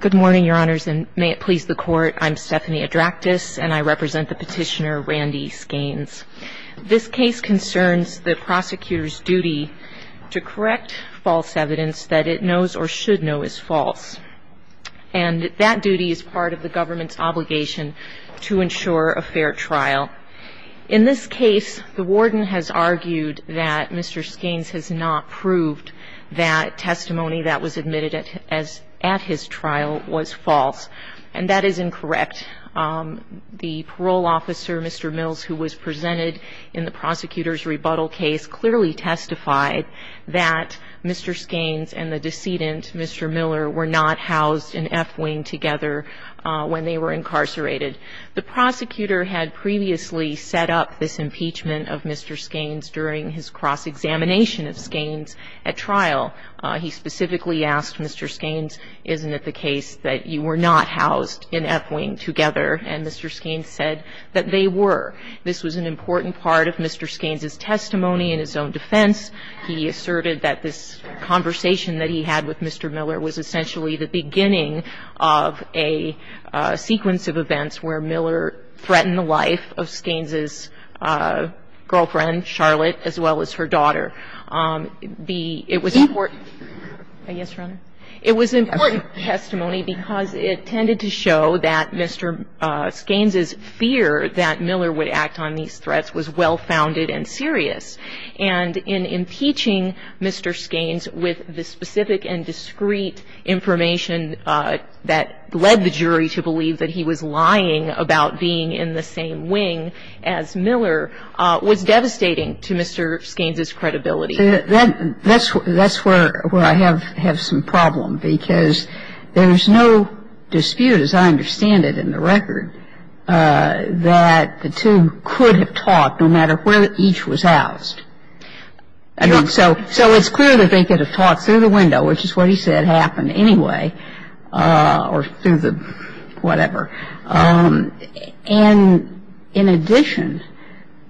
Good morning, your honors, and may it please the court. I'm Stephanie Adractis, and I represent the petitioner Randy Skains. This case concerns the prosecutor's duty to correct false evidence that it knows or should know is false. And that duty is part of the government's obligation to ensure a fair trial. In this case, the warden has argued that Mr. Skains has not proved that testimony that was admitted at his trial was false. And that is incorrect. The parole officer, Mr. Mills, who was presented in the prosecutor's rebuttal case, clearly testified that Mr. Skains and the decedent, Mr. Miller, were not housed in F wing together when they were incarcerated. The prosecutor had previously set up this impeachment of Mr. Skains during his cross-examination of Skains at trial. He specifically asked Mr. Skains, isn't it the case that you were not housed in F wing together, and Mr. Skains said that they were. This was an important part of Mr. Skains' testimony in his own defense. He asserted that this conversation that he had with Mr. Miller was essentially the beginning of a sequence of events where Miller threatened the life of Skains' girlfriend, Charlotte, as well as her daughter. It was important testimony because it tended to show that Mr. Skains' fear that Miller would act on these threats was well-founded and serious, and in impeaching Mr. Skains with the specific and discreet information that led the jury to believe that he was lying about being in the same wing as Miller was devastating to Mr. Skains' credibility. That's where I have some problem because there's no dispute, as I understand it in the record, that the two could have talked no matter where each was housed. So it's clear that they could have talked through the window, which is what he said happened anyway, or through the whatever. And in addition,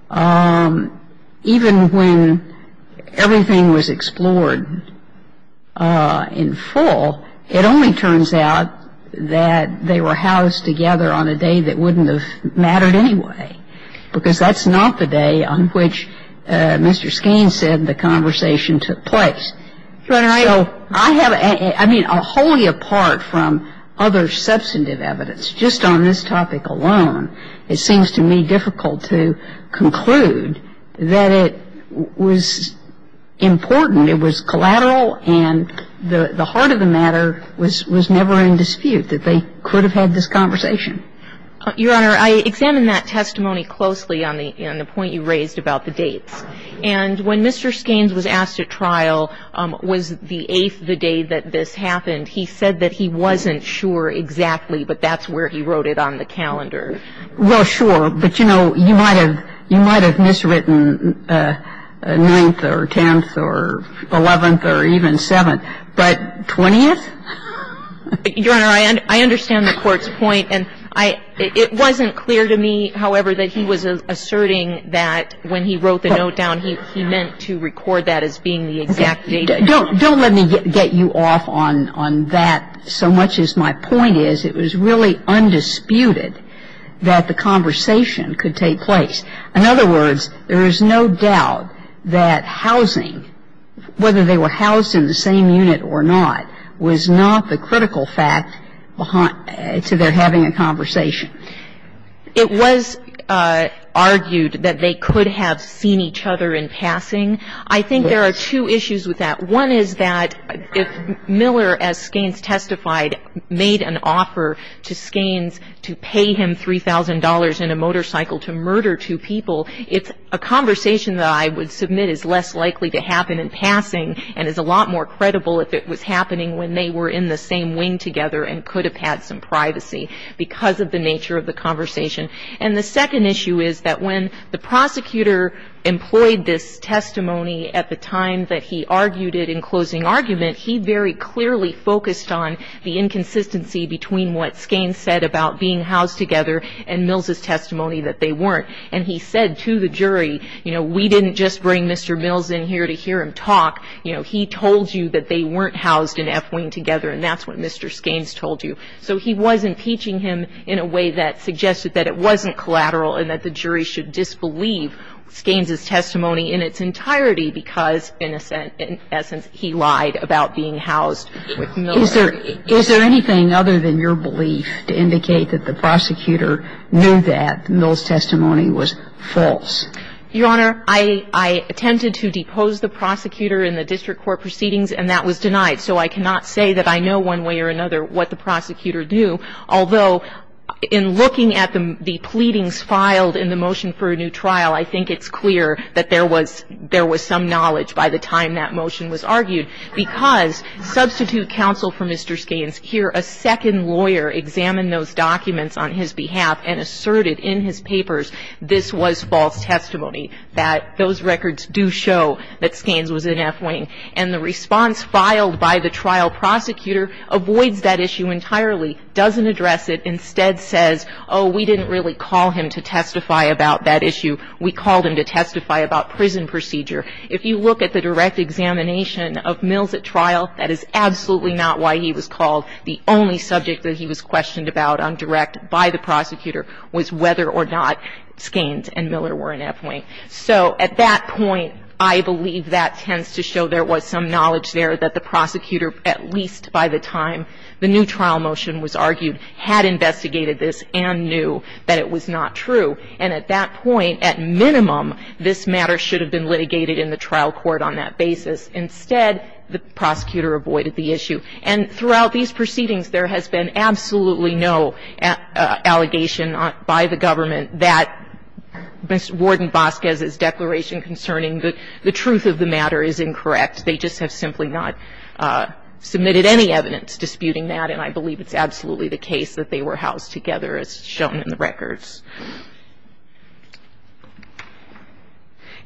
even when everything was explored in full, it only turns out that they were housed together on a day that wouldn't have mattered anyway, because that's not the day on which Mr. Skains said the conversation took place. So I have a — I mean, wholly apart from other substantive evidence, just on this topic alone, it seems to me difficult to conclude that it was important, it was collateral, and the heart of the matter was never in dispute, that they could have had this conversation. Your Honor, I examined that testimony closely on the point you raised about the dates. And when Mr. Skains was asked at trial, was the 8th the day that this happened, he said that he wasn't sure exactly, but that's where he wrote it on the calendar. Well, sure. But, you know, you might have miswritten 9th or 10th or 11th or even 7th, but 20th? Your Honor, I understand the Court's point. And I — it wasn't clear to me, however, that he was asserting that when he wrote the note down, he meant to record that as being the exact date. Don't let me get you off on that so much as my point is it was really undisputed that the conversation could take place. In other words, there is no doubt that housing, whether they were housed in the same unit or not, was not the critical fact to their having a conversation. It was argued that they could have seen each other in passing. I think there are two issues with that. One is that if Miller, as Skains testified, made an offer to Skains to pay him $3,000 in a motorcycle to murder two people, it's a conversation that I would submit is less likely to happen in passing and is a lot more credible if it was happening when they were in the same wing together and could have had some privacy because of the nature of the conversation. And the second issue is that when the prosecutor employed this testimony at the time that he argued it in closing argument, he very clearly focused on the inconsistency between what Skains said about being housed together and Mills' testimony that they weren't. And he said to the jury, you know, we didn't just bring Mr. Mills in here to hear him talk. You know, he told you that they weren't housed in F wing together, and that's what Mr. Skains told you. So he was impeaching him in a way that suggested that it wasn't collateral and that the jury should disbelieve Skains' testimony in its entirety because, in essence, he lied about being housed with Miller. Is there anything other than your belief to indicate that the prosecutor knew that Mills' testimony was false? Your Honor, I attempted to depose the prosecutor in the district court proceedings, and that was denied. So I cannot say that I know one way or another what the prosecutor knew, although in looking at the pleadings filed in the motion for a new trial, I think it's clear that there was some knowledge by the time that motion was argued because substitute counsel for Mr. Skains, here a second lawyer examined those documents on his behalf and asserted in his papers this was false testimony, that those records do show that Skains was in F wing. And the response filed by the trial prosecutor avoids that issue entirely, doesn't address it, instead says, oh, we didn't really call him to testify about that issue. We called him to testify about prison procedure. If you look at the direct examination of Mills at trial, that is absolutely not why he was called. The only subject that he was questioned about on direct by the prosecutor was whether or not Skains and Miller were in F wing. So at that point, I believe that tends to show there was some knowledge there that the prosecutor, at least by the time the new trial motion was argued, had investigated this and knew that it was not true. And at that point, at minimum, this matter should have been litigated in the trial court on that basis. Instead, the prosecutor avoided the issue. And throughout these proceedings, there has been absolutely no allegation by the government that Mr. Ward and Vasquez's declaration concerning the truth of the matter is incorrect. They just have simply not submitted any evidence disputing that. And I believe it's absolutely the case that they were housed together, as shown in the records.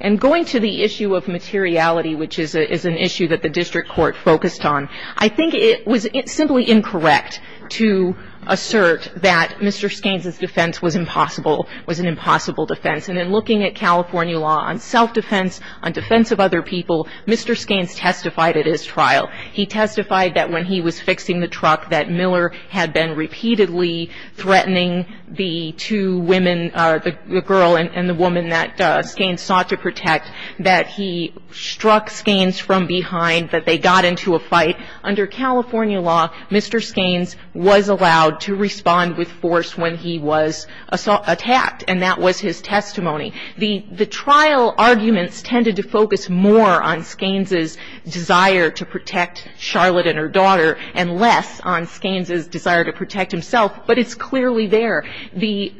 And going to the issue of materiality, which is an issue that the district court focused on, I think it was simply incorrect to assert that Mr. Skains's defense was impossible was an impossible defense. And in looking at California law on self-defense, on defense of other people, Mr. Skains testified at his trial. He testified that when he was fixing the truck, that Miller had been repeatedly threatening the two women, the girl and the woman that Skains sought to protect, that he struck Skains from behind, that they got into a fight. Under California law, Mr. Skains was allowed to respond with force when he was attacked, and that was his testimony. The trial arguments tended to focus more on Skains's desire to protect Charlotte and her daughter and less on Skains's desire to protect himself, but it's clearly there. The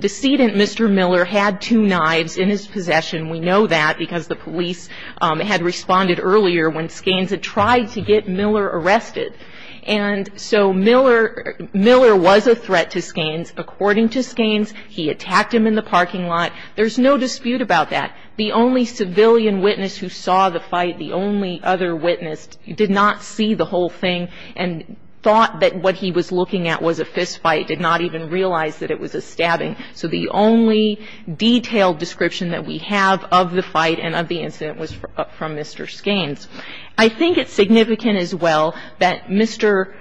decedent, Mr. Miller, had two knives in his possession. We know that because the police had responded earlier when Skains had tried to get Miller arrested. And so Miller was a threat to Skains. According to Skains, he attacked him in the parking lot. There's no dispute about that. The only civilian witness who saw the fight, the only other witness, did not see the whole thing and thought that what he was looking at was a fistfight, did not even realize that it was a stabbing. So the only detailed description that we have of the fight and of the incident was from Mr. Skains. I think it's significant as well that Mr.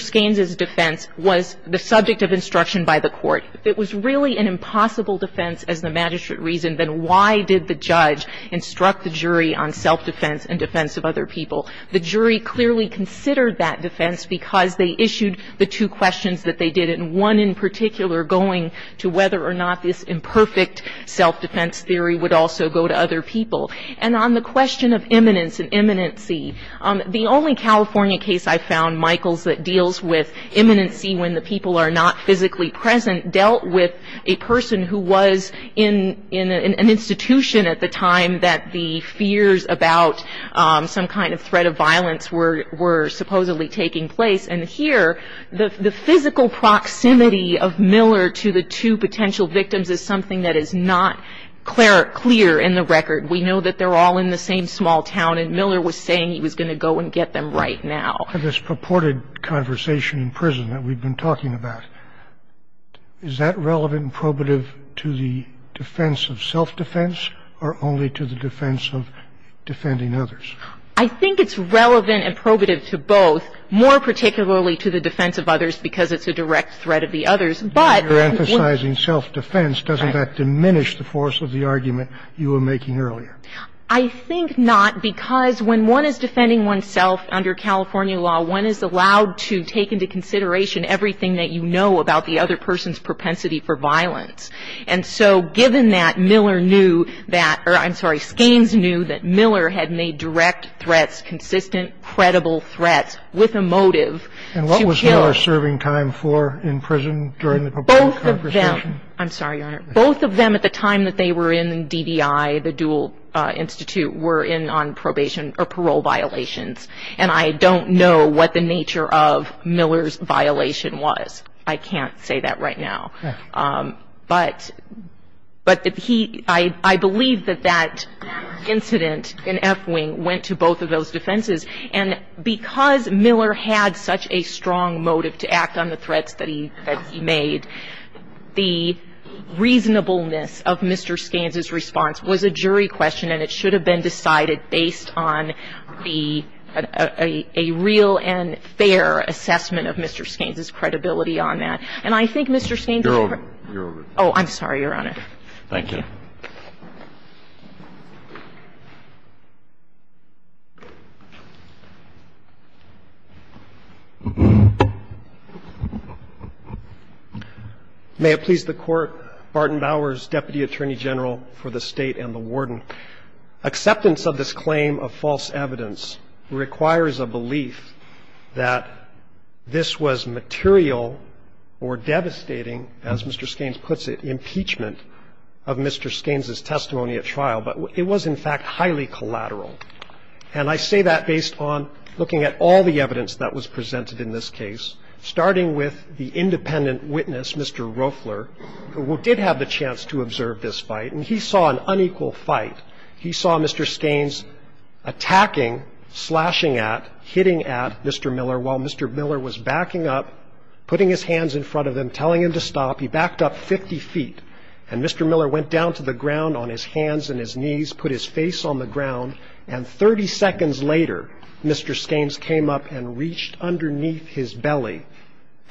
Skains's defense was the subject of instruction by the Court. If it was really an impossible defense as the magistrate reasoned, then why did the judge instruct the jury on self-defense and defense of other people? The jury clearly considered that defense because they issued the two questions that they did, and one in particular going to whether or not this imperfect self-defense theory would also go to other people. And on the question of imminence and imminency, the only California case I found, Michaels, that deals with imminency when the people are not physically present, dealt with a person who was in an institution at the time that the fears about some kind of threat of violence were supposedly taking place. And here, the physical proximity of Miller to the two potential victims is something that is not clear in the record. We know that they're all in the same small town, and Miller was saying he was going to go and get them right now. This purported conversation in prison that we've been talking about, is that relevant and probative to the defense of self-defense or only to the defense of defending others? I think it's relevant and probative to both. More particularly to the defense of others because it's a direct threat of the others. But when you're emphasizing self-defense, doesn't that diminish the force of the argument you were making earlier? I think not because when one is defending oneself under California law, one is allowed to take into consideration everything that you know about the other person's propensity for violence. And so given that, Miller knew that or I'm sorry, Miller had made direct threats, consistent, credible threats with a motive to kill. And what was Miller serving time for in prison during the purported conversation? Both of them. I'm sorry, Your Honor. Both of them at the time that they were in DDI, the dual institute, were in on probation or parole violations. And I don't know what the nature of Miller's violation was. I can't say that right now. But I believe that that incident in F wing went to both of those defenses. And because Miller had such a strong motive to act on the threats that he made, the reasonableness of Mr. Skanes' response was a jury question and it should have been decided based on a real and fair assessment of Mr. Skanes' credibility on that. And I think Mr. Skanes' report. You're over. Oh, I'm sorry, Your Honor. Thank you. May it please the Court. Barton Bowers, Deputy Attorney General for the State and the Warden. Mr. Skanes' testimony at trial. I say that based on the evidence that Mr. Skanes' testimony at trial provided. You can look at the evidence that Mr. Skanes' testimony provided. Acceptance of this claim of false evidence requires a belief that this was material or devastating, as Mr. Skanes puts it, impeachment of Mr. Skanes' testimony at trial. It was, in fact, highly collateral. And I say that based on looking at all the evidence that was presented in this case, starting with the independent witness, Mr. Roeffler, who did have the chance to observe this fight, and he saw an unequal fight. He saw Mr. Skanes attacking, slashing at, hitting at Mr. Miller while Mr. Miller was backing up, putting his hands in front of him, telling him to stop. He backed up 50 feet, and Mr. Miller went down to the ground on his hands and his knees, put his face on the ground, and 30 seconds later, Mr. Skanes came up and reached underneath his belly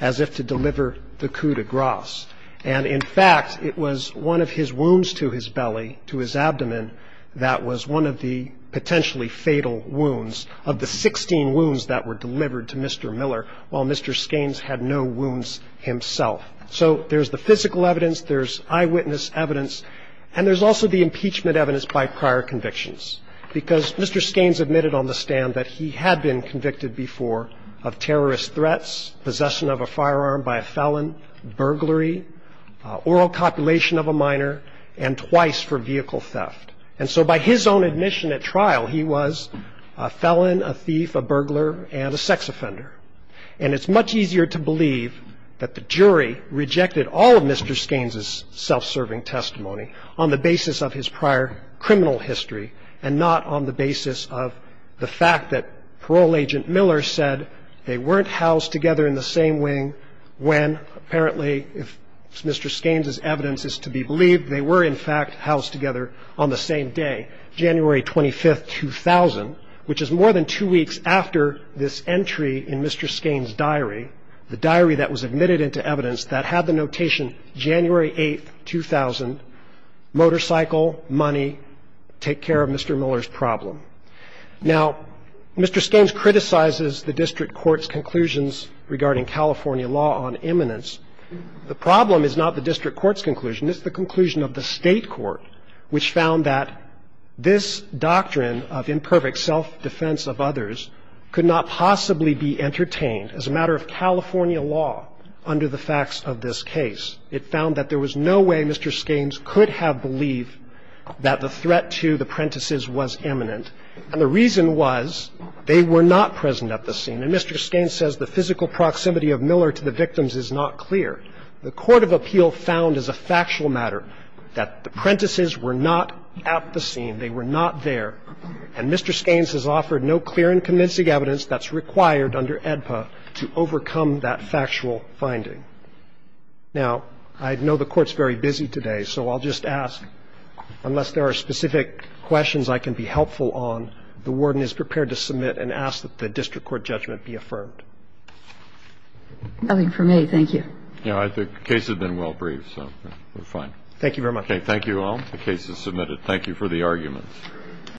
as if to deliver the coup de grace. And, in fact, it was one of his wounds to his belly, to his abdomen, that was one of the potentially fatal wounds of the 16 wounds that were delivered to Mr. Miller while Mr. Skanes had no wounds himself. So there's the physical evidence, there's eyewitness evidence, and there's also the impeachment evidence by prior convictions, because Mr. Skanes admitted on the stand that he had been convicted before of terrorist threats, possession of a firearm by a felon, burglary, oral copulation of a minor, and twice for vehicle theft. And so by his own admission at trial, he was a felon, a thief, a burglar, and a sex offender. And it's much easier to believe that the jury rejected all of Mr. Skanes' self-serving testimony on the basis of his prior criminal history and not on the basis of the fact that Parole Agent Miller said they weren't housed together in the same wing when, apparently, if Mr. Skanes' evidence is to be believed, they were, in fact, housed together on the same day, January 25, 2000, which is more than two weeks after this entry in Mr. Skanes' diary, the diary that was admitted into evidence that had the notation January 8, 2000, motorcycle, money, take care of Mr. Miller's problem. Now, Mr. Skanes criticizes the district court's conclusions regarding California law on imminence. The problem is not the district court's conclusion. It's the conclusion of the state court, which found that this doctrine of imperfect self-defense of others could not possibly be entertained as a matter of California law under the facts of this case. It found that there was no way Mr. Skanes could have believed that the threat to the Prentiss's was imminent. And the reason was they were not present at the scene. And Mr. Skanes says the physical proximity of Miller to the victims is not clear. The court of appeal found as a factual matter that the Prentiss's were not at the scene. They were not there. And Mr. Skanes has offered no clear and convincing evidence that's required under AEDPA to overcome that factual finding. Now, I know the Court's very busy today, so I'll just ask, unless there are specific questions I can be helpful on, the warden is prepared to submit and ask that the district court judgment be affirmed. Nothing for me. Thank you. No, I think the case has been well briefed, so we're fine. Thank you very much. Okay. Thank you all. The case is submitted. Thank you for the arguments.